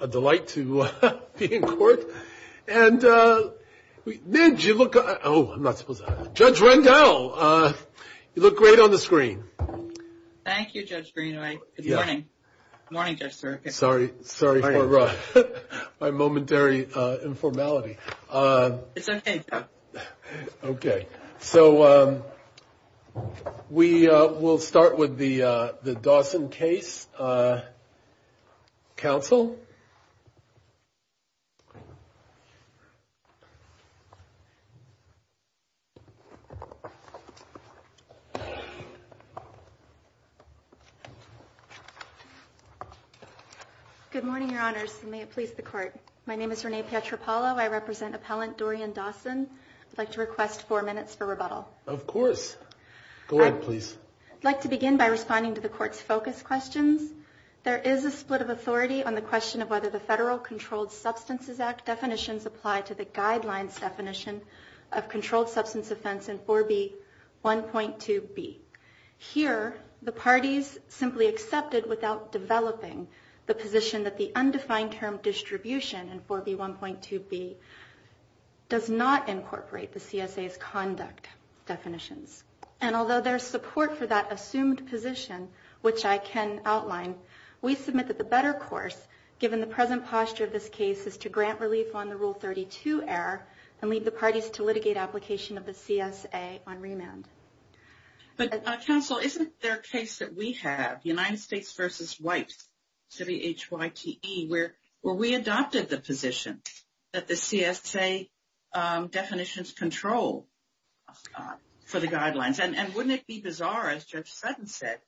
a delight to be in court. And we did you look? Oh, I'm not supposed to judge Randall. You look great on the screen. Thank you, Judge Greenway. Good morning. Morning, sir. Sorry. Sorry. My momentary informality. It's OK. OK. So we will start with the the Dawson case. Counsel. Good morning, Your Honors. May it please the court. My name is Renee Petropalo. I represent appellant Dorian Dawson. I'd like to request four minutes for rebuttal. Of course. Go ahead, please. I'd like to begin by responding to the court's focus questions. There is a split of authority on the question of whether the Federal Controlled Substances Act definitions apply to the guidelines definition of controlled substance offense in 4B 1.2B. Here, the parties simply accepted without developing the position that the undefined term distribution and 4B 1.2B. Does not incorporate the CSA's conduct definitions, and although there's support for that assumed position, which I can outline, we submit that the better course, given the present posture of this case, is to grant relief on the Rule 32 error and leave the parties to litigate application of the CSA on remand. But counsel, isn't there a case that we have, United States v. White, where we adopted the position that the CSA definitions control for the guidelines? And wouldn't it be bizarre, as Judge Sutton said,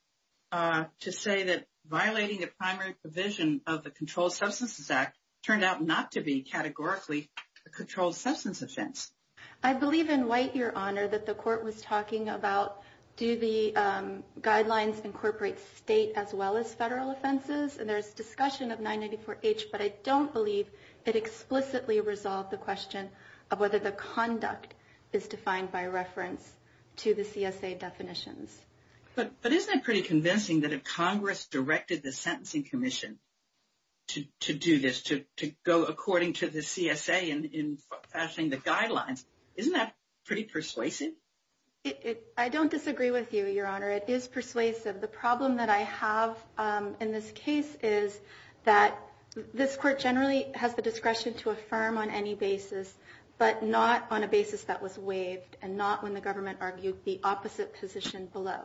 to say that violating the primary provision of the Controlled Substances Act turned out not to be categorically a controlled substance offense? I believe in White, Your Honor, that the court was talking about, do the guidelines incorporate state as well as federal offenses? And there's discussion of 994H, but I don't believe it explicitly resolved the question of whether the conduct is defined by reference to the CSA definitions. But isn't it pretty convincing that if Congress directed the Sentencing Commission to do this, to go according to the CSA in fashioning the guidelines, isn't that pretty persuasive? I don't disagree with you, Your Honor. It is persuasive. The problem that I have in this case is that this court generally has the discretion to affirm on any basis, but not on a basis that was waived and not when the government argued the opposite position below.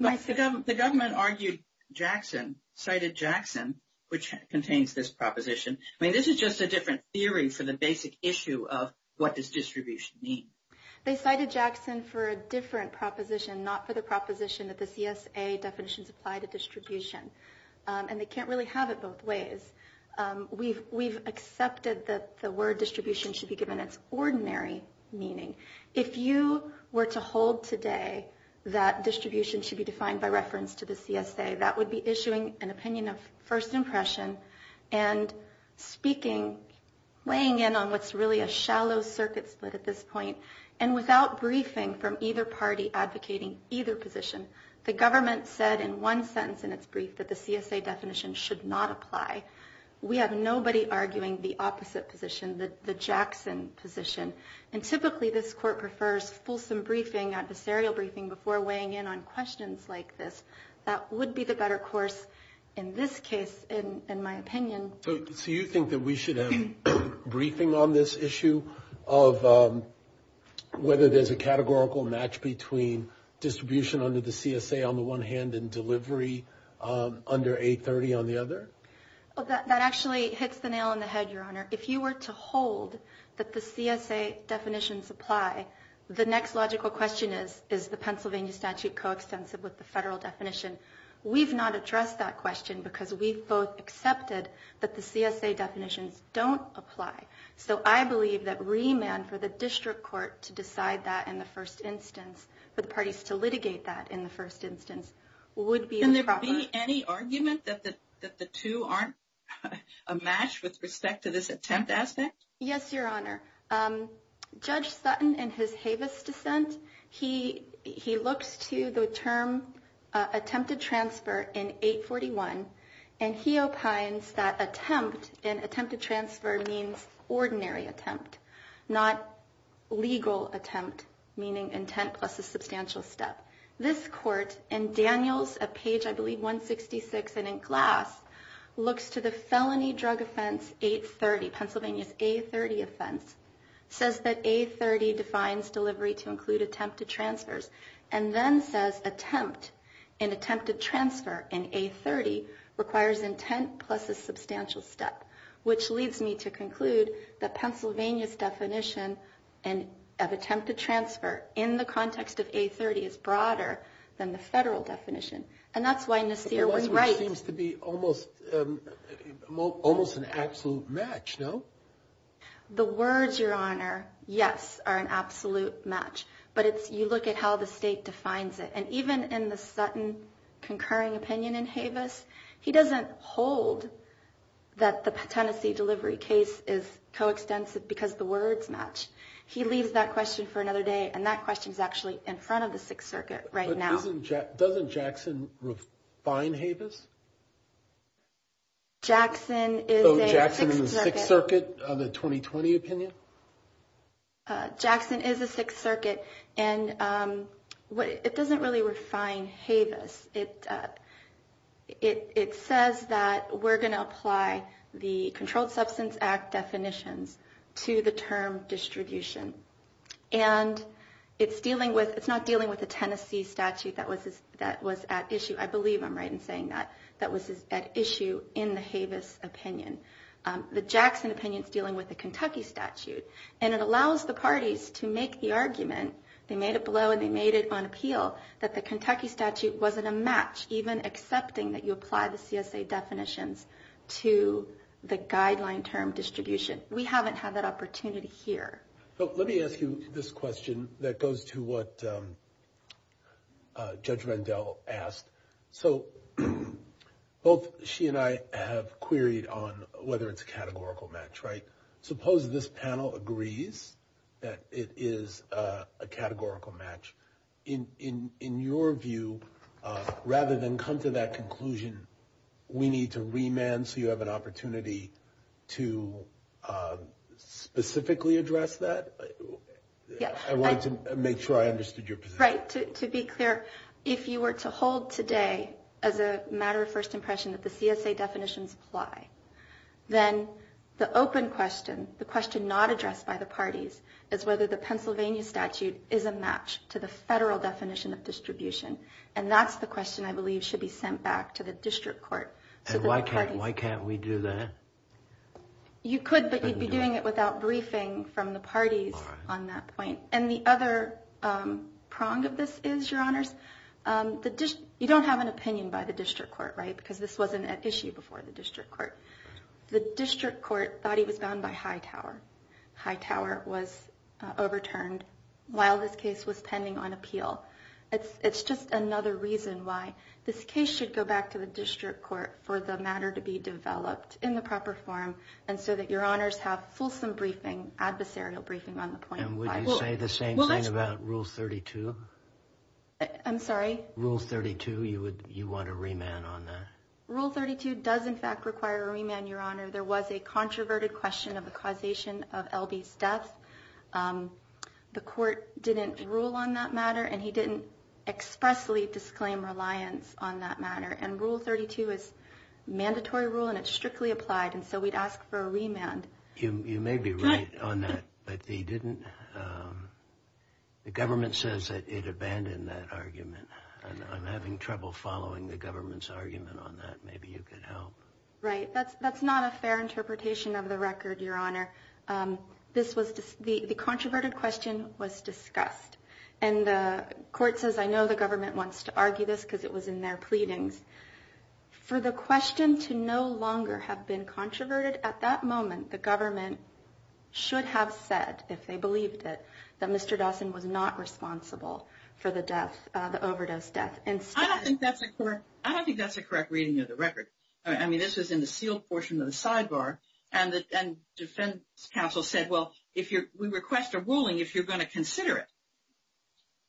The government argued Jackson, cited Jackson, which contains this proposition. I mean, this is just a different theory for the basic issue of what does distribution mean. They cited Jackson for a different proposition, not for the proposition that the CSA definitions apply to distribution. And they can't really have it both ways. We've accepted that the word distribution should be given its ordinary meaning. If you were to hold today that distribution should be defined by reference to the CSA, that would be issuing an opinion of first impression and speaking, weighing in on what's really a shallow circuit split at this point. And without briefing from either party advocating either position, the government said in one sentence in its brief that the CSA definition should not apply. We have nobody arguing the opposite position, the Jackson position. And typically, this court prefers fulsome briefing, adversarial briefing, before weighing in on questions like this. That would be the better course in this case, in my opinion. So you think that we should have briefing on this issue of whether there's a categorical match between distribution under the CSA on the one hand and delivery under 830 on the other? That actually hits the nail on the head, Your Honor. If you were to hold that the CSA definitions apply, the next logical question is, is the Pennsylvania statute coextensive with the federal definition? We've not addressed that question because we've both accepted that the CSA definitions don't apply. So I believe that remand for the district court to decide that in the first instance, for the parties to litigate that in the first instance, would be the proper... Can there be any argument that the two aren't a match with respect to this attempt aspect? Yes, Your Honor. Judge Sutton, in his Havis dissent, he looks to the term attempted transfer in 841, and he opines that attempt and attempted transfer means ordinary attempt, not legal attempt, meaning intent plus a substantial step. This court, in Daniels, at page, I believe, 166, and in Glass, looks to the felony drug offense 830, Pennsylvania's 830 offense, says that 830 defines delivery to include attempted transfers, and then says attempt and attempted transfer in 830 requires intent plus a substantial step, which leads me to conclude that Pennsylvania's definition of attempted transfer in the context of 830 is broader than the federal definition. And that's why Nasir was right. It seems to be almost an absolute match, no? The words, Your Honor, yes, are an absolute match, but you look at how the state defines it. And even in the Sutton concurring opinion in Havis, he doesn't hold that the Tennessee delivery case is coextensive because the words match. He leaves that question for another day, and that question is actually in front of the Sixth Circuit right now. But doesn't Jackson define Havis? Jackson is a Sixth Circuit. So Jackson is the Sixth Circuit of the 2020 opinion? Jackson is a Sixth Circuit, and it doesn't really refine Havis. It says that we're going to apply the Controlled Substance Act definitions to the term distribution, and it's not dealing with the Tennessee statute that was at issue. I believe I'm right in saying that that was at issue in the Havis opinion. The Jackson opinion is dealing with the Kentucky statute, and it allows the parties to make the argument, they made it below and they made it on appeal, that the Kentucky statute wasn't a match, even accepting that you apply the CSA definitions to the guideline term distribution. We haven't had that opportunity here. Let me ask you this question that goes to what Judge Rendell asked. So both she and I have queried on whether it's a categorical match, right? Suppose this panel agrees that it is a categorical match. In your view, rather than come to that conclusion, we need to remand so you have an opportunity to specifically address that? I wanted to make sure I understood your position. To be clear, if you were to hold today as a matter of first impression that the CSA definitions apply, then the open question, the question not addressed by the parties, is whether the Pennsylvania statute is a match to the federal definition of distribution, and that's the question I believe should be sent back to the district court. Why can't we do that? You could, but you'd be doing it without briefing from the parties on that point. And the other prong of this is, Your Honors, you don't have an opinion by the district court, right? Because this wasn't an issue before the district court. The district court thought he was bound by Hightower. Hightower was overturned while this case was pending on appeal. It's just another reason why this case should go back to the district court for the matter to be developed in the proper form and so that Your Honors have fulsome briefing, adversarial briefing on the point. And would you say the same thing about Rule 32? I'm sorry? Rule 32, you want a remand on that? Rule 32 does, in fact, require a remand, Your Honor. There was a controverted question of the causation of L.B.'s death. The court didn't rule on that matter, and he didn't expressly disclaim reliance on that matter. And Rule 32 is a mandatory rule, and it's strictly applied, and so we'd ask for a remand. You may be right on that, but he didn't. The government says that it abandoned that argument. I'm having trouble following the government's argument on that. Maybe you could help. Right. That's not a fair interpretation of the record, Your Honor. The controverted question was discussed, and the court says, I know the government wants to argue this because it was in their pleadings. For the question to no longer have been controverted at that moment, the government should have said, if they believed it, that Mr. Dawson was not responsible for the overdose death. I don't think that's a correct reading of the record. I mean, this was in the sealed portion of the sidebar, and defense counsel said, well, we request a ruling if you're going to consider it.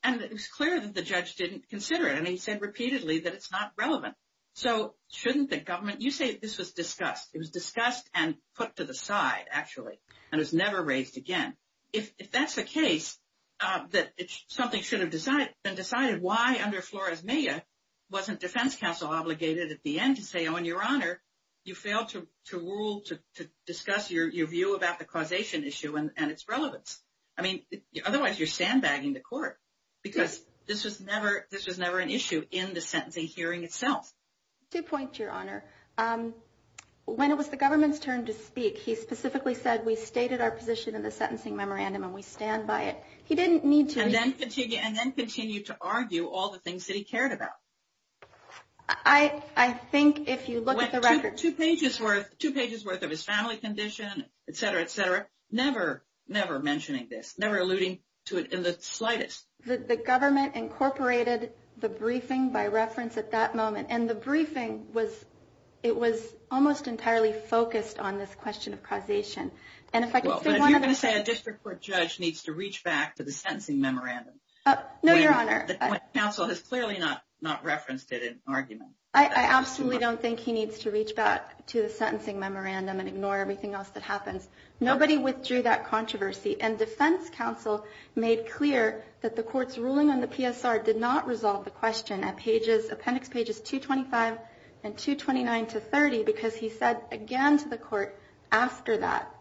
And it was clear that the judge didn't consider it, and he said repeatedly that it's not relevant. So shouldn't the government – you say this was discussed. It was discussed and put to the side, actually, and it was never raised again. If that's the case, that something should have been decided, why under Flores-Meyer wasn't defense counsel obligated at the end to say, oh, and, Your Honor, you failed to rule, to discuss your view about the causation issue and its relevance. I mean, otherwise you're sandbagging the court, because this was never an issue in the sentencing hearing itself. Two points, Your Honor. When it was the government's turn to speak, he specifically said we stated our position in the sentencing memorandum and we stand by it. He didn't need to – And then continue to argue all the things that he cared about. I think if you look at the record – Never alluding to it in the slightest. The government incorporated the briefing by reference at that moment, and the briefing was – it was almost entirely focused on this question of causation. And if I can say one other thing – Well, but if you're going to say a district court judge needs to reach back to the sentencing memorandum – No, Your Honor. When counsel has clearly not referenced it in argument. I absolutely don't think he needs to reach back to the sentencing memorandum and ignore everything else that happens. Nobody withdrew that controversy, and defense counsel made clear that the court's ruling on the PSR did not resolve the question at appendix pages 225 and 229 to 30 because he said again to the court after that,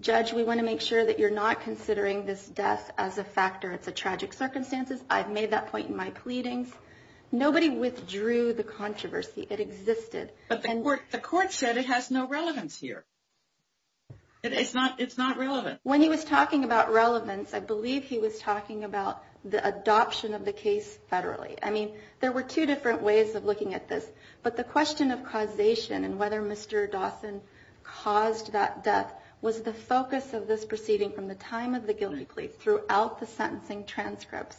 Judge, we want to make sure that you're not considering this death as a factor. It's a tragic circumstance. I've made that point in my pleadings. Nobody withdrew the controversy. It existed. But the court said it has no relevance here. It's not relevant. When he was talking about relevance, I believe he was talking about the adoption of the case federally. I mean, there were two different ways of looking at this. But the question of causation and whether Mr. Dawson caused that death was the focus of this proceeding from the time of the guilty plea throughout the sentencing transcripts.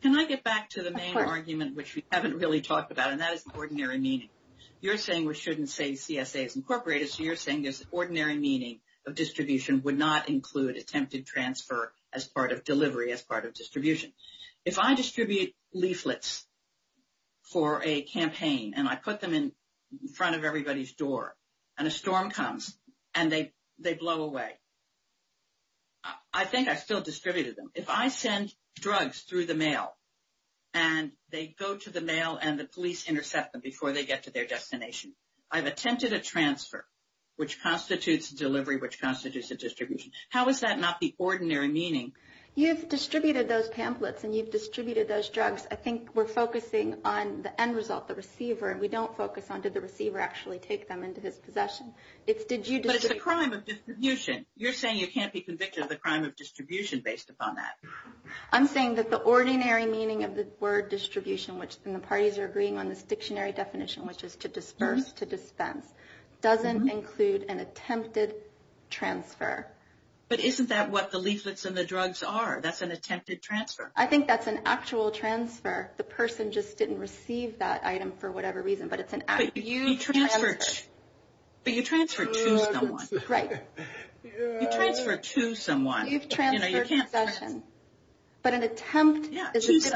Can I get back to the main argument, which we haven't really talked about, and that is ordinary meaning. You're saying we shouldn't say CSA is incorporated, so you're saying this ordinary meaning of distribution would not include attempted transfer as part of delivery, as part of distribution. If I distribute leaflets for a campaign and I put them in front of everybody's door and a storm comes and they blow away, I think I still distributed them. If I send drugs through the mail and they go to the mail and the police intercept them before they get to their destination, I've attempted a transfer, which constitutes a delivery, which constitutes a distribution. How is that not the ordinary meaning? You've distributed those pamphlets and you've distributed those drugs. I think we're focusing on the end result, the receiver, and we don't focus on did the receiver actually take them into his possession. But it's the crime of distribution. You're saying you can't be convicted of the crime of distribution based upon that. I'm saying that the ordinary meaning of the word distribution, and the parties are agreeing on this dictionary definition, which is to disperse, to dispense, doesn't include an attempted transfer. But isn't that what the leaflets and the drugs are? That's an attempted transfer. I think that's an actual transfer. The person just didn't receive that item for whatever reason, but it's an actual transfer. But you transfer to someone. Right. You transfer to someone. You've transferred possession. But an attempt is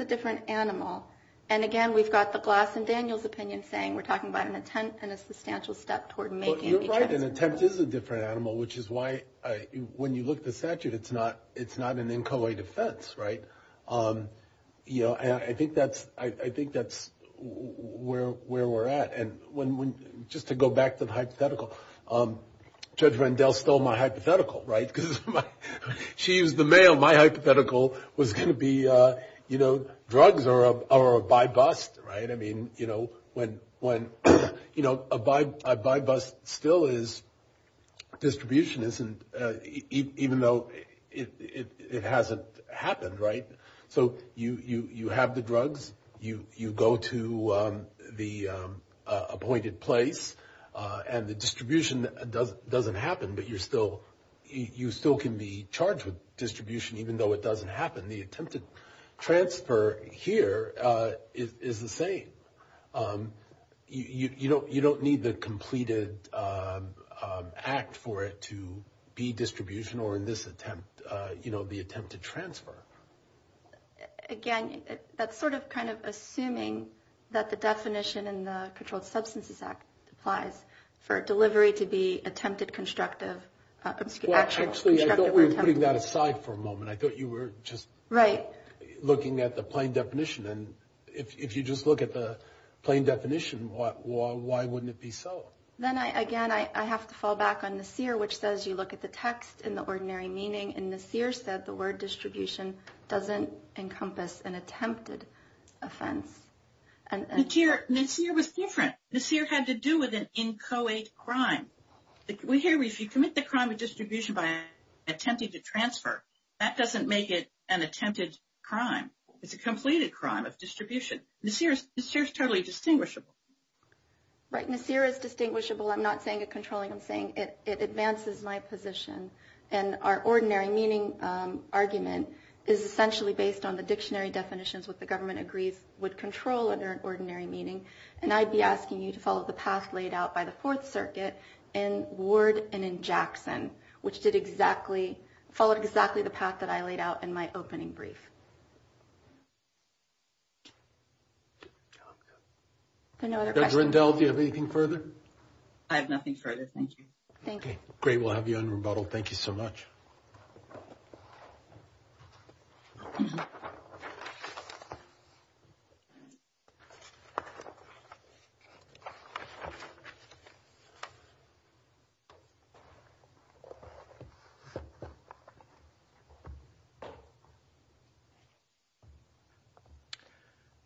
a different animal. And, again, we've got the Glass and Daniels opinion saying we're talking about an attempt and a substantial step toward making a transfer. You're right. An attempt is a different animal, which is why when you look at the statute, it's not an inchoate offense, right? I think that's where we're at. And just to go back to the hypothetical, Judge Rendell stole my hypothetical, right? She used the mail. My hypothetical was going to be, you know, drugs are a by-bust, right? I mean, you know, a by-bust still is distribution, even though it hasn't happened, right? So you have the drugs, you go to the appointed place, and the distribution doesn't happen, but you still can be charged with distribution even though it doesn't happen. The attempted transfer here is the same. You don't need the completed act for it to be distribution or in this attempt, you know, the attempted transfer. Again, that's sort of kind of assuming that the definition in the Controlled Substances Act applies for a delivery to be attempted constructive. Well, actually, I thought we were putting that aside for a moment. I thought you were just looking at the plain definition. And if you just look at the plain definition, why wouldn't it be so? Then, again, I have to fall back on Nassir, which says you look at the text in the ordinary meaning, and Nassir said the word distribution doesn't encompass an attempted offense. Nassir was different. Nassir had to do with an inchoate crime. We hear if you commit the crime of distribution by attempting to transfer, that doesn't make it an attempted crime. It's a completed crime of distribution. Nassir is totally distinguishable. Right. Nassir is distinguishable. I'm not saying it's controlling. I'm saying it advances my position. And our ordinary meaning argument is essentially based on the dictionary definitions what the government agrees would control under an ordinary meaning. And I'd be asking you to follow the path laid out by the Fourth Circuit in Ward and in Jackson, which followed exactly the path that I laid out in my opening brief. Dr. Rendell, do you have anything further? I have nothing further. Thank you. Great. We'll have you on rebuttal. Thank you so much.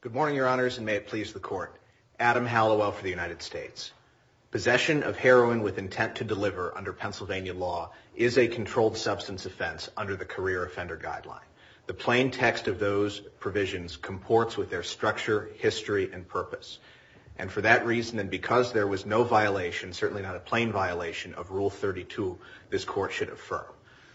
Good morning, Your Honors, and may it please the Court. Adam Hallowell for the United States. Possession of heroin with intent to deliver under Pennsylvania law is a controlled substance offense under the Career Offender Guideline. The plain text of those provisions comports with their structure, history, and purpose. And for that reason, and because there was no violation, certainly not a plain violation, of Rule 32, this Court should affirm.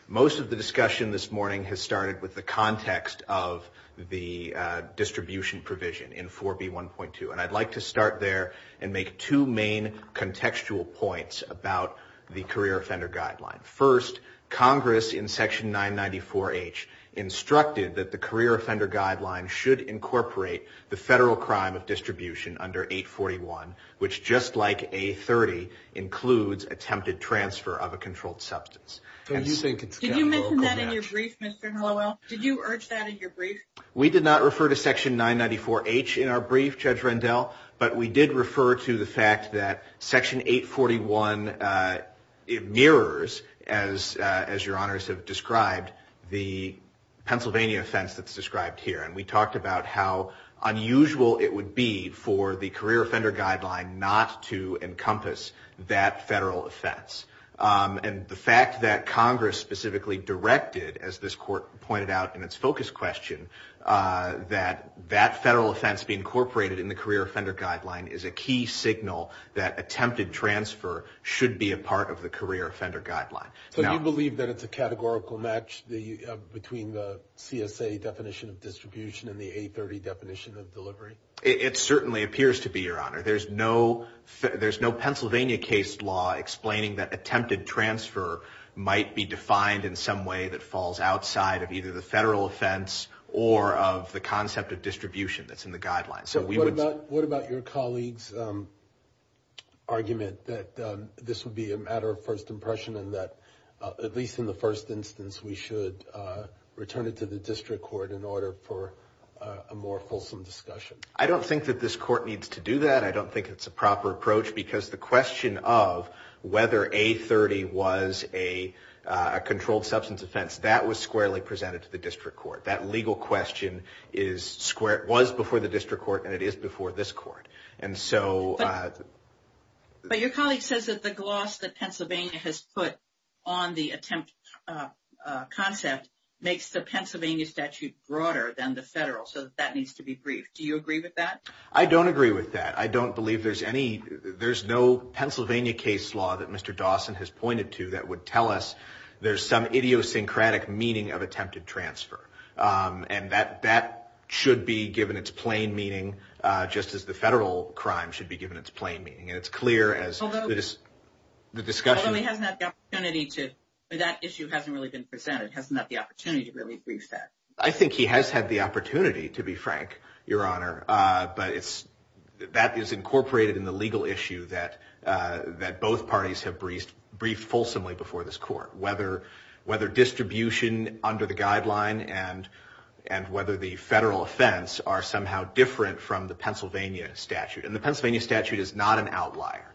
Most of the discussion this morning has started with the context of the distribution provision in 4B1.2. And I'd like to start there and make two main contextual points about the Career Offender Guideline. First, Congress in Section 994H instructed that the Career Offender Guideline should incorporate the federal crime of distribution under 841, which, just like A30, includes attempted transfer of a controlled substance. Did you mention that in your brief, Mr. Hallowell? Did you urge that in your brief? We did not refer to Section 994H in our brief, Judge Rendell, but we did refer to the fact that Section 841 mirrors, as Your Honors have described, the Pennsylvania offense that's described here. And we talked about how unusual it would be for the Career Offender Guideline not to encompass that federal offense. And the fact that Congress specifically directed, as this Court pointed out in its focus question, that that federal offense be incorporated in the Career Offender Guideline is a key signal that attempted transfer should be a part of the Career Offender Guideline. So you believe that it's a categorical match between the CSA definition of distribution and the A30 definition of delivery? There's no Pennsylvania case law explaining that attempted transfer might be defined in some way that falls outside of either the federal offense or of the concept of distribution that's in the Guideline. So what about your colleague's argument that this would be a matter of first impression and that, at least in the first instance, we should return it to the District Court in order for a more fulsome discussion? I don't think that this Court needs to do that. I don't think it's a proper approach because the question of whether A30 was a controlled substance offense, that was squarely presented to the District Court. That legal question was before the District Court, and it is before this Court. But your colleague says that the gloss that Pennsylvania has put on the attempt concept makes the Pennsylvania statute broader than the federal, so that needs to be briefed. Do you agree with that? I don't agree with that. I don't believe there's any – there's no Pennsylvania case law that Mr. Dawson has pointed to that would tell us there's some idiosyncratic meaning of attempted transfer. And that should be given its plain meaning, just as the federal crime should be given its plain meaning. And it's clear as the discussion – Although he hasn't had the opportunity to – that issue hasn't really been presented. He hasn't had the opportunity to really brief that. I think he has had the opportunity, to be frank, Your Honor, but that is incorporated in the legal issue that both parties have briefed fulsomely before this Court, whether distribution under the guideline and whether the federal offense are somehow different from the Pennsylvania statute. And the Pennsylvania statute is not an outlier.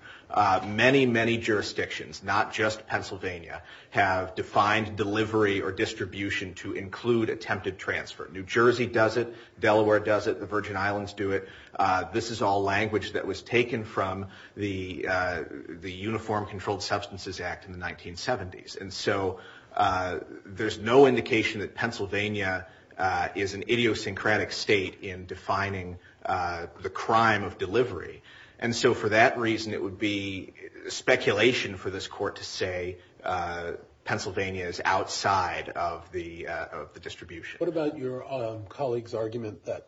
Many, many jurisdictions, not just Pennsylvania, have defined delivery or distribution to include attempted transfer. New Jersey does it. Delaware does it. The Virgin Islands do it. This is all language that was taken from the Uniform Controlled Substances Act in the 1970s. And so there's no indication that Pennsylvania is an idiosyncratic state in defining the crime of delivery. And so for that reason, it would be speculation for this Court to say Pennsylvania is outside of the distribution. What about your colleague's argument that,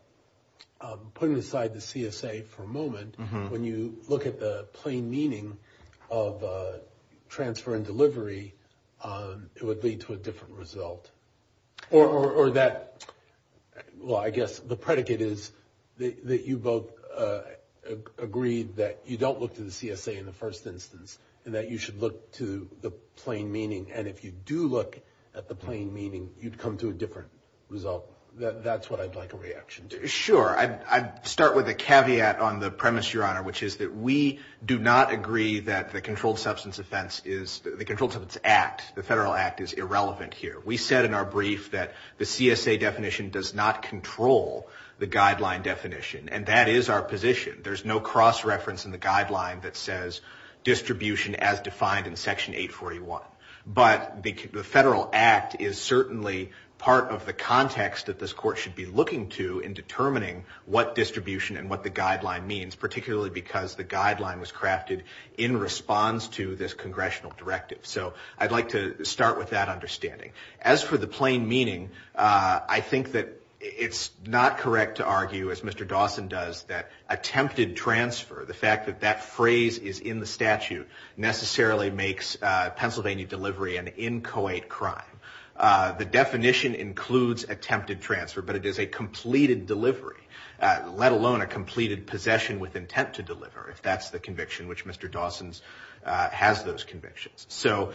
putting aside the CSA for a moment, when you look at the plain meaning of transfer and delivery, it would lead to a different result? Or that, well, I guess the predicate is that you both agreed that you don't look to the CSA in the first instance and that you should look to the plain meaning. And if you do look at the plain meaning, you'd come to a different result. That's what I'd like a reaction to. Sure. I'd start with a caveat on the premise, Your Honor, which is that we do not agree that the Controlled Substance Offense Act, the federal act, is irrelevant here. We said in our brief that the CSA definition does not control the guideline definition, and that is our position. There's no cross-reference in the guideline that says distribution as defined in Section 841. But the federal act is certainly part of the context that this Court should be looking to in determining what distribution and what the guideline means, particularly because the guideline was crafted in response to this congressional directive. So I'd like to start with that understanding. As for the plain meaning, I think that it's not correct to argue, as Mr. Dawson does, that attempted transfer, the fact that that phrase is in the statute necessarily makes Pennsylvania delivery an inchoate crime. The definition includes attempted transfer, but it is a completed delivery, let alone a completed possession with intent to deliver, if that's the conviction which Mr. Dawson has those convictions. So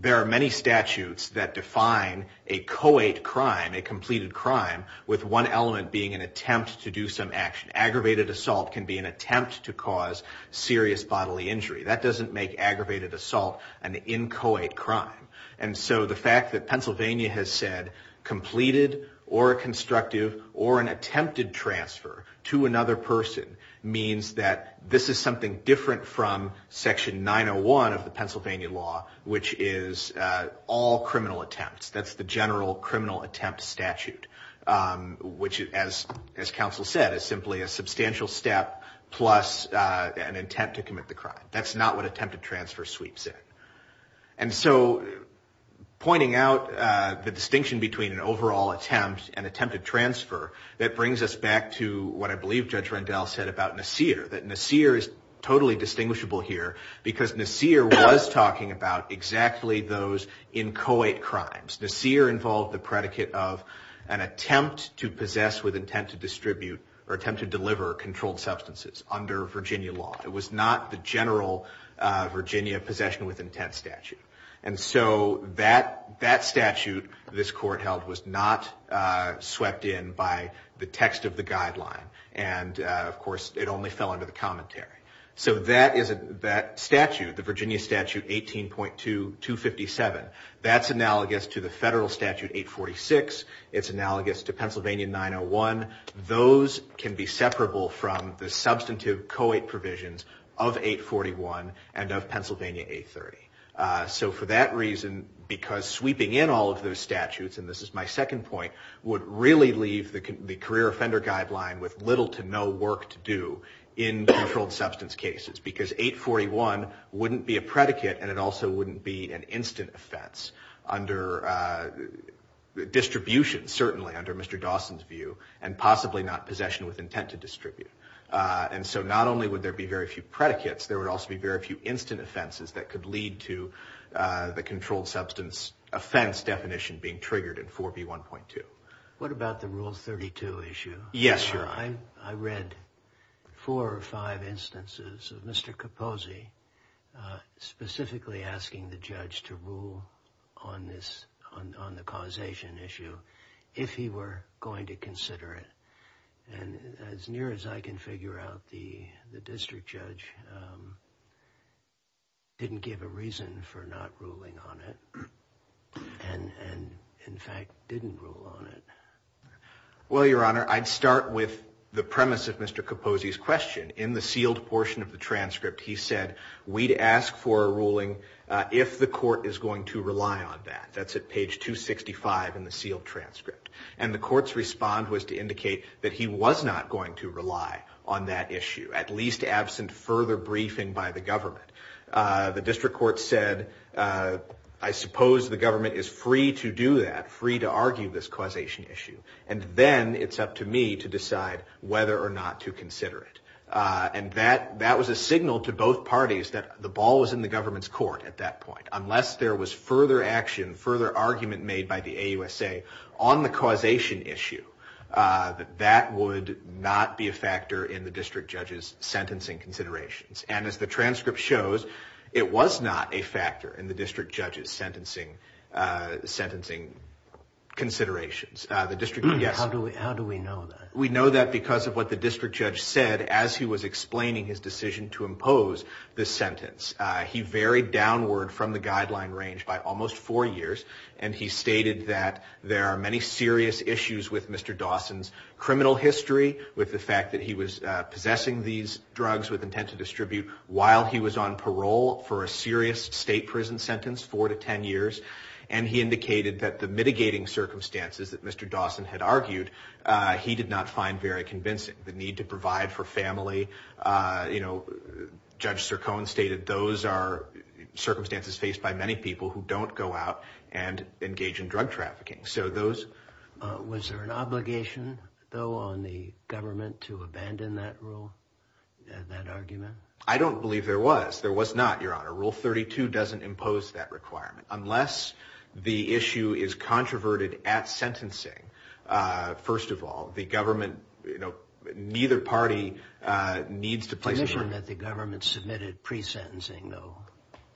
there are many statutes that define a coate crime, a completed crime, with one element being an attempt to do some action. Aggravated assault can be an attempt to cause serious bodily injury. That doesn't make aggravated assault an inchoate crime. And so the fact that Pennsylvania has said completed or constructive or an attempted transfer to another person means that this is something different from Section 901 of the Pennsylvania law, which is all criminal attempts. That's the general criminal attempt statute, which, as counsel said, is simply a substantial step plus an attempt to commit the crime. That's not what attempted transfer sweeps in. And so pointing out the distinction between an overall attempt and attempted transfer, that brings us back to what I believe Judge Rendell said about Nassir. That Nassir is totally distinguishable here because Nassir was talking about exactly those inchoate crimes. Nassir involved the predicate of an attempt to possess with intent to distribute or attempt to deliver controlled substances under Virginia law. It was not the general Virginia possession with intent statute. And so that statute this court held was not swept in by the text of the guideline. And, of course, it only fell under the commentary. So that statute, the Virginia statute 18.257, that's analogous to the federal statute 846. It's analogous to Pennsylvania 901. Those can be separable from the substantive co-eight provisions of 841 and of Pennsylvania 830. So for that reason, because sweeping in all of those statutes, and this is my second point, would really leave the career offender guideline with little to no work to do in controlled substance cases. Because 841 wouldn't be a predicate and it also wouldn't be an instant offense under distribution, certainly, under Mr. Dawson's view. And possibly not possession with intent to distribute. And so not only would there be very few predicates, there would also be very few instant offenses that could lead to the controlled substance offense definition being triggered in 4B1.2. What about the Rule 32 issue? Yes, Your Honor. I read four or five instances of Mr. Capozzi specifically asking the judge to rule on this, on the causation issue, if he were going to consider it. And as near as I can figure out, the district judge didn't give a reason for not ruling on it. And, in fact, didn't rule on it. Well, Your Honor, I'd start with the premise of Mr. Capozzi's question. In the sealed portion of the transcript, he said, we'd ask for a ruling if the court is going to rely on that. That's at page 265 in the sealed transcript. And the court's respond was to indicate that he was not going to rely on that issue, at least absent further briefing by the government. The district court said, I suppose the government is free to do that, free to argue this causation issue. And then it's up to me to decide whether or not to consider it. And that was a signal to both parties that the ball was in the government's court at that point. Unless there was further action, further argument made by the AUSA on the causation issue, that would not be a factor in the district judge's sentencing considerations. And as the transcript shows, it was not a factor in the district judge's sentencing considerations. How do we know that? We know that because of what the district judge said as he was explaining his decision to impose the sentence. He varied downward from the guideline range by almost four years. And he stated that there are many serious issues with Mr. Dawson's criminal history, with the fact that he was possessing these drugs with intent to distribute while he was on parole for a serious state prison sentence, four to ten years. And he indicated that the mitigating circumstances that Mr. Dawson had argued, he did not find very convincing. The need to provide for family, you know, Judge Sircone stated those are circumstances faced by many people who don't go out and engage in drug trafficking. So those... Was there an obligation, though, on the government to abandon that rule, that argument? No. Rule 32 doesn't impose that requirement. Unless the issue is controverted at sentencing, first of all, the government, you know, neither party needs to place... The commission that the government submitted pre-sentencing, though,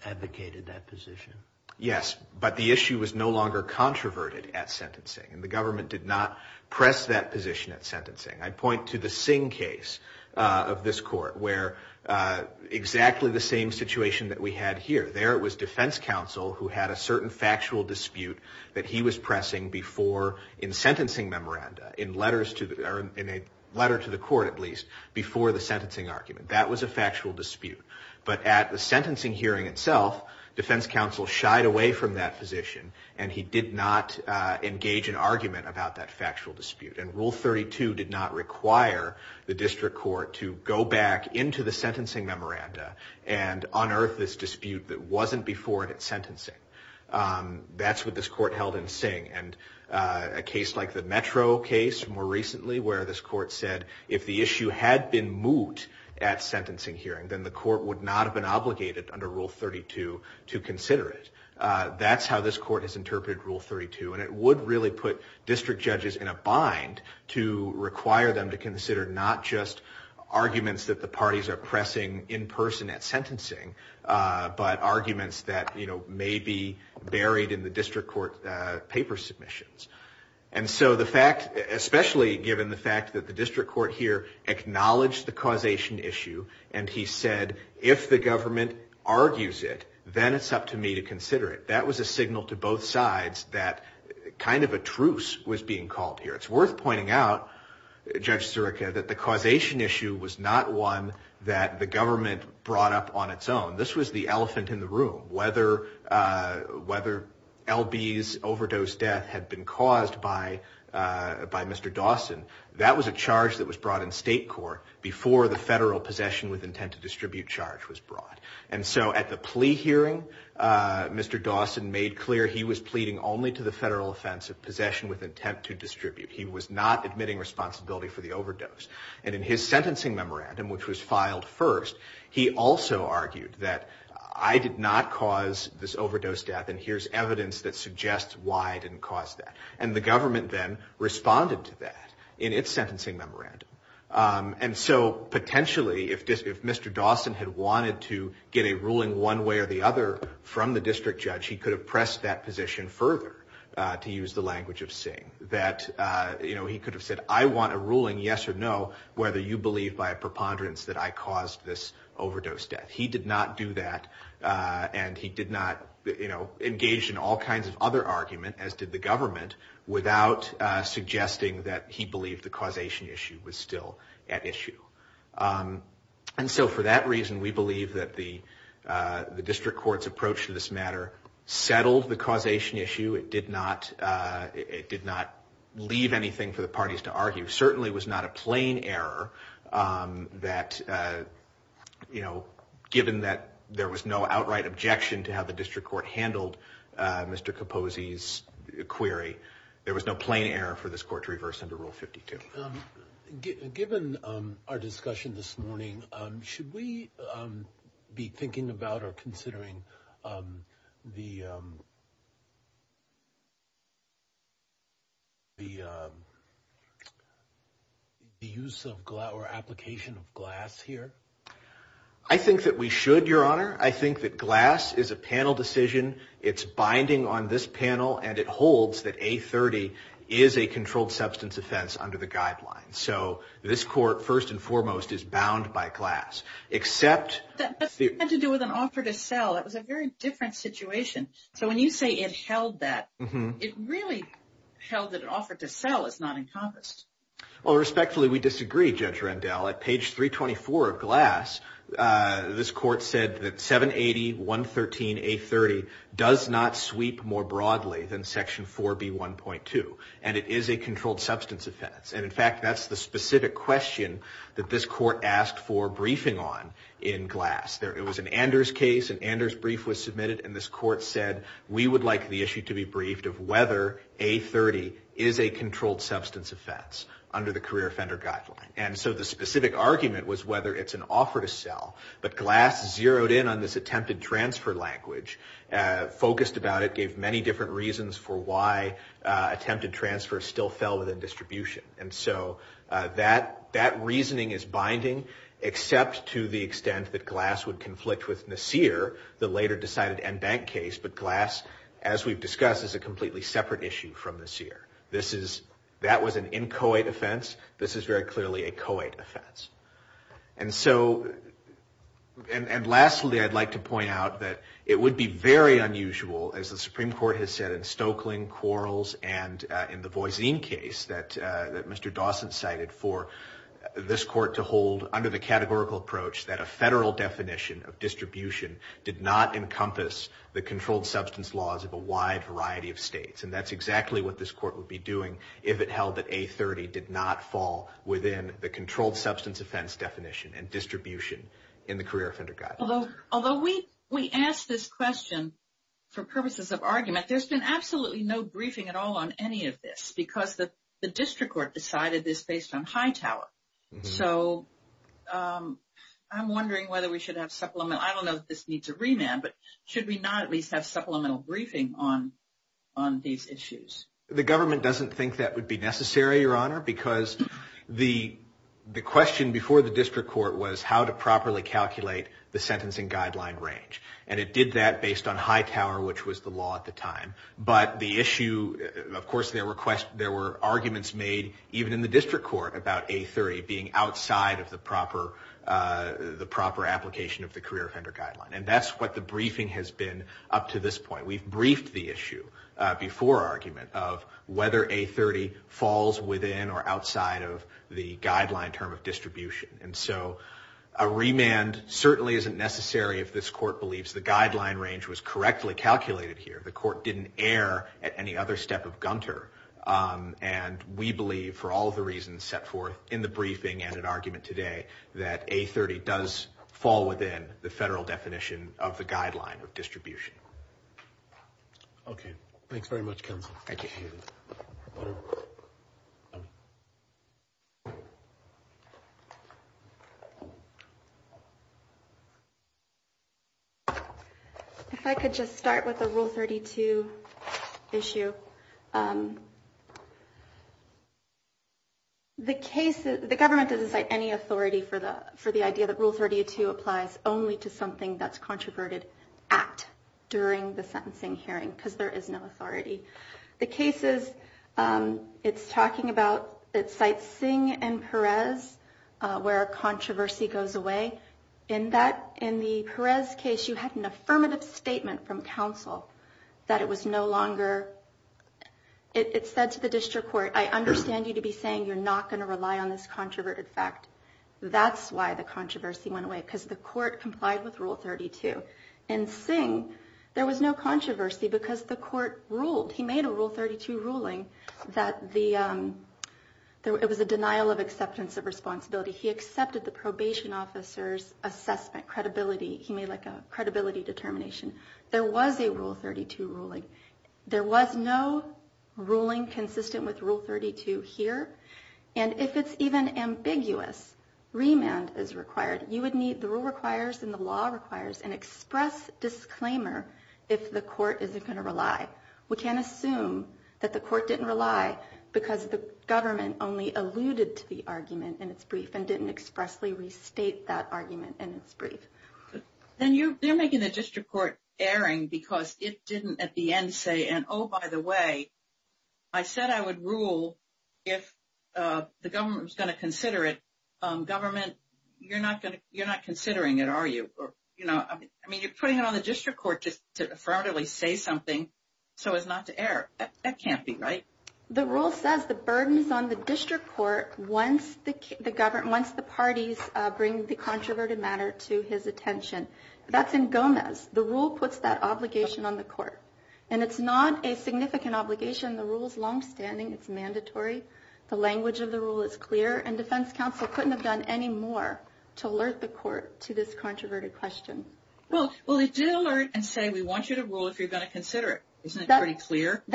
advocated that position. Yes, but the issue was no longer controverted at sentencing. And the government did not press that position at sentencing. I point to the Singh case of this court, where exactly the same situation that we had here. There it was defense counsel who had a certain factual dispute that he was pressing before, in sentencing memoranda, in letters to... Or in a letter to the court, at least, before the sentencing argument. That was a factual dispute. But at the sentencing hearing itself, defense counsel shied away from that position, and he did not engage in argument about that factual dispute. And Rule 32 did not require the district court to go back into the sentencing memoranda and unearth this dispute that wasn't before it at sentencing. That's what this court held in Singh. And a case like the Metro case, more recently, where this court said, if the issue had been moot at sentencing hearing, then the court would not have been obligated, under Rule 32, to consider it. That's how this court has interpreted Rule 32. And it would really put district judges in a bind to require them to consider, not just arguments that the parties are pressing in person at sentencing, but arguments that may be buried in the district court paper submissions. And so the fact, especially given the fact that the district court here acknowledged the causation issue, and he said, if the government argues it, then it's up to me to consider it. That was a signal to both sides that kind of a truce was being called here. It's worth pointing out, Judge Zureka, that the causation issue was not one that the government brought up on its own. This was the elephant in the room. Whether L.B.'s overdose death had been caused by Mr. Dawson, that was a charge that was brought in state court before the federal possession with intent to distribute charge was brought. And so at the plea hearing, Mr. Dawson made clear he was pleading only to the federal offense of possession with intent to distribute. He was not admitting responsibility for the overdose. And in his sentencing memorandum, which was filed first, he also argued that I did not cause this overdose death, and here's evidence that suggests why I didn't cause that. And the government then responded to that in its sentencing memorandum. And so potentially, if Mr. Dawson had wanted to get a ruling one way or the other from the district judge, he could have pressed that position further, to use the language of Singh, that he could have said, I want a ruling, yes or no, whether you believe by a preponderance that I caused this overdose death. He did not do that, and he did not engage in all kinds of other argument, as did the government, without suggesting that he believed the causation issue was still at issue. And so for that reason, we believe that the district court's approach to this matter settled the causation issue. It did not leave anything for the parties to argue. It certainly was not a plain error that given that there was no outright objection to how the district court handled Mr. Capozzi's query, there was no plain error for this court to reverse under Rule 52. Given our discussion this morning, should we be thinking about or considering the use of or application of glass here? I think that we should, Your Honor. I think that glass is a panel decision. It's binding on this panel, and it holds that A30 is a controlled substance offense under the guidelines. So this court, first and foremost, is bound by glass. That had to do with an offer to sell. That was a very different situation. So when you say it held that, it really held that an offer to sell is not encompassed. Well, respectfully, we disagree, Judge Rendell. At page 324 of glass, this court said that 780.113.A30 does not sweep more broadly than Section 4B.1.2, and it is a controlled substance offense. And in fact, that's the specific question that this court asked for briefing on in glass. It was an Anders case. An Anders brief was submitted, and this court said, we would like the issue to be briefed of whether A30 is a controlled substance offense under the career offender guideline. And so the specific argument was whether it's an offer to sell, but glass zeroed in on this attempted transfer language, focused about it, gave many different reasons for why attempted transfer still fell within distribution. And so that reasoning is binding, except to the extent that glass would conflict with Nassir, the later decided en banc case, but glass, as we've discussed, is a completely separate issue from Nassir. That was an inchoate offense. This is very clearly a coate offense. And so, and lastly, I'd like to point out that it would be very unusual, as the Supreme Court has said in Stokeling, Quarles, and in the Voisine case that Mr. Dawson cited, for this court to hold under the categorical approach that a federal definition of distribution did not fall within the laws of a wide variety of states. And that's exactly what this court would be doing if it held that A30 did not fall within the controlled substance offense definition and distribution in the career offender guideline. Although we ask this question for purposes of argument, there's been absolutely no briefing at all on any of this, because the district court decided this based on Hightower. So, I'm wondering whether we should have supplemental, I don't know if this needs a remand, but should we not at least have supplemental briefing on these issues? The government doesn't think that would be necessary, Your Honor, because the question before the district court was how to properly calculate the sentencing guideline range. And it did that based on Hightower, which was the law at the time. But the issue, of course there were arguments made, even in the district court, about A30 being outside of the proper application of the career offender guideline. And that's what the briefing has been up to this point. We've briefed the issue before argument of whether A30 falls within or outside of the guideline term of distribution. And so, a remand certainly isn't necessary if this court believes the guideline range was correctly calculated here. The court didn't err at any other step of Gunter. And we believe for all the reasons set forth in the briefing and in argument today that A30 does fall within the federal definition of the guideline of distribution. Okay. Thanks very much, counsel. Thank you. If I could just start with the Rule 32 issue. The government doesn't cite any authority for the idea that Rule 32 applies only to something that's controverted at during the sentencing hearing, because there is no authority. The cases it's talking about, it cites Singh and Perez where controversy goes away. In the Perez case, you had an affirmative statement from counsel that it was no longer, it said to the district court, I understand you to be saying you're not going to rely on this controverted fact. That's why the controversy went away, because the court complied with Rule 32. In Singh, there was no controversy because the court ruled, he made a Rule 32 ruling that the it was a denial of acceptance of responsibility. He accepted the probation officer's assessment, credibility. He made like a credibility determination. There was a Rule 32 ruling. There was no ruling consistent with Rule 32 here. And if it's even ambiguous, remand is required. The rule requires and the law requires an express disclaimer if the court isn't going to rely. We can't assume that the court didn't rely because the government only alluded to the argument in its brief and didn't expressly restate that argument in its brief. Then you're making the district court erring because it didn't at the end say, and oh, by the way, I said I would rule if the government was going to consider it. Government, you're not considering it, are you? I mean, you're putting it on the district court just to affirmatively say something so as not to err. That can't be right. The rule says the burden is on the district court once the parties bring the controverted matter to his attention. That's in Gomez. The rule puts that obligation on the court. And it's not a significant obligation. The rule is longstanding. It's mandatory. The language of the rule is clear. And defense counsel couldn't have done any more to alert the court to this controverted question. Well, it did alert and say we want you to rule if you're going to consider it. Isn't that pretty clear? But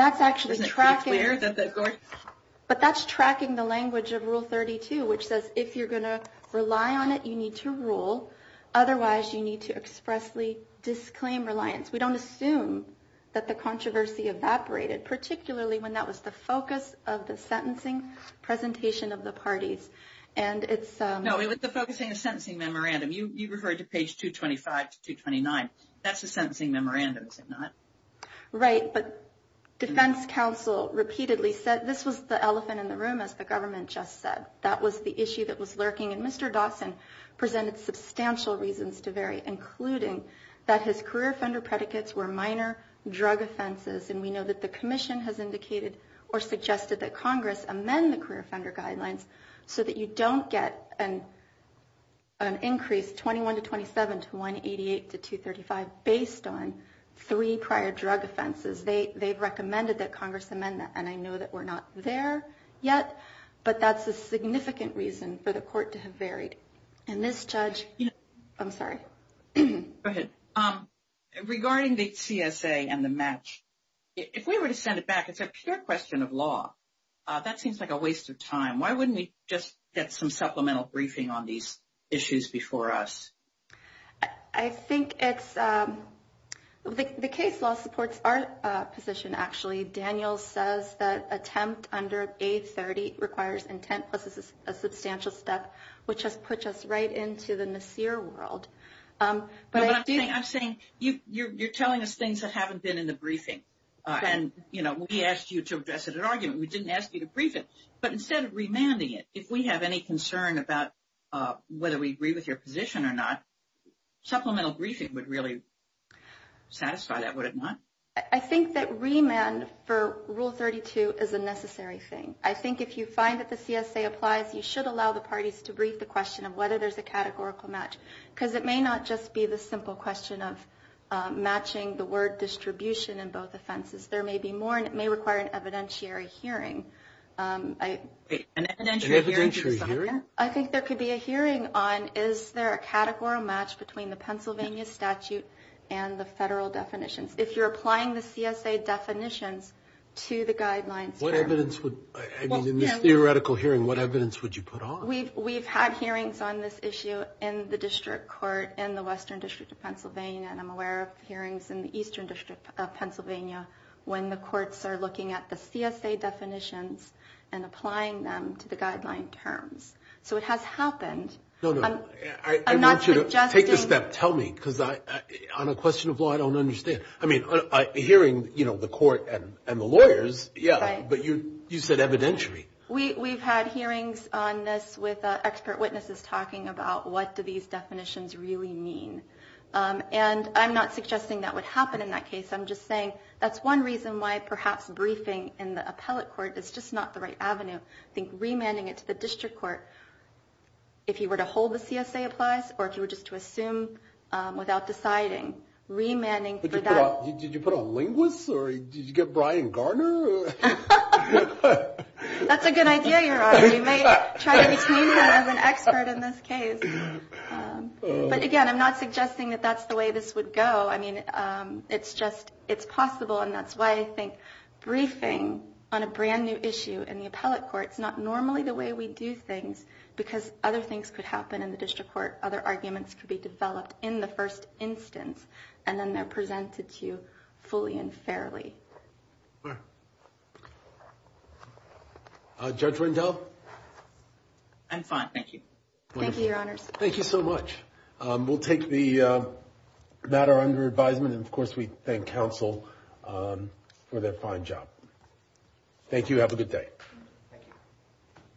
that's tracking the language of Rule 32 which says if you're going to rely on it, you need to rule. Otherwise, you need to expressly disclaim reliance. We don't assume that the controversy evaporated, particularly when that was the focus of the sentencing presentation of the parties. No, it was the focus of the sentencing memorandum. You referred to page 225 to 229. That's the sentencing memorandum, is it not? Right, but defense counsel repeatedly said this was the elephant in the room, as the government just said. That was the issue that was lurking. And Mr. Dawson presented substantial reasons to vary, including that his career offender predicates were minor drug offenses. And we know that the commission has indicated or suggested that Congress amend the career offender guidelines so that you don't get an increase, 21 to 27, to 188 to 235, based on three prior drug offenses. They've recommended that Congress amend that, and I know that we're not there yet, but that's a significant reason for the court to have varied. And this judge... I'm sorry. Go ahead. Regarding the CSA and the match, if we were to send it back, it's a pure question of law. That seems like a waste of time. Why wouldn't we just get some supplemental briefing on these issues before us? I think it's...the case law supports our position, actually. Daniel says that attempt under A30 requires intent, plus a substantial step, which has put us right into the Nasir world. But I'm saying you're telling us things that haven't been in the briefing. We asked you to address it at argument. We didn't ask you to brief it. But instead of remanding it, if we have any concern about whether we agree with your position or not, supplemental briefing would really I think remand for Rule 32 is a necessary thing. I think if you find that the CSA applies, you should allow the parties to brief the question of whether there's a categorical match. Because it may not just be the simple question of matching the word distribution in both offenses. There may be more and it may require an evidentiary hearing. An evidentiary hearing? I think there could be a hearing on is there a categorical match between the Pennsylvania statute and the federal definitions. If you're applying the CSA definitions to the guidelines What evidence would, I mean, in this theoretical hearing, what evidence would you put on? We've had hearings on this issue in the District Court in the Western District of Pennsylvania. And I'm aware of hearings in the Eastern District of Pennsylvania when the courts are looking at the CSA definitions and applying them to the guideline terms. So it has happened. No, no, I want you to take a step. Tell me. Because on a question of law, I don't understand. I mean, hearing the court and the lawyers, yeah, but you said evidentiary. We've had hearings on this with expert witnesses talking about what do these definitions really mean. And I'm not suggesting that would happen in that case. I'm just saying that's one reason why perhaps briefing in the appellate court is just not the right avenue. I think remanding it to the District Court, if you were to hold the CSA applies or if you were just to assume without deciding, remanding Did you put on linguists or did you get Brian Garner? That's a good idea, Your Honor. We may try to retain him as an expert in this case. But again, I'm not suggesting that that's the way this would go. I mean, it's just it's possible and that's why I think briefing on a brand new issue in the appellate court is not normally the way we do things because other things could happen in the District Court. Other arguments could be developed in the first instance and then they're presented to you fully and fairly. Judge Rendell? I'm fine, thank you. Thank you, Your Honors. Thank you so much. We'll take the matter under advisement and of course we thank counsel for their fine job. Thank you. Have a good day.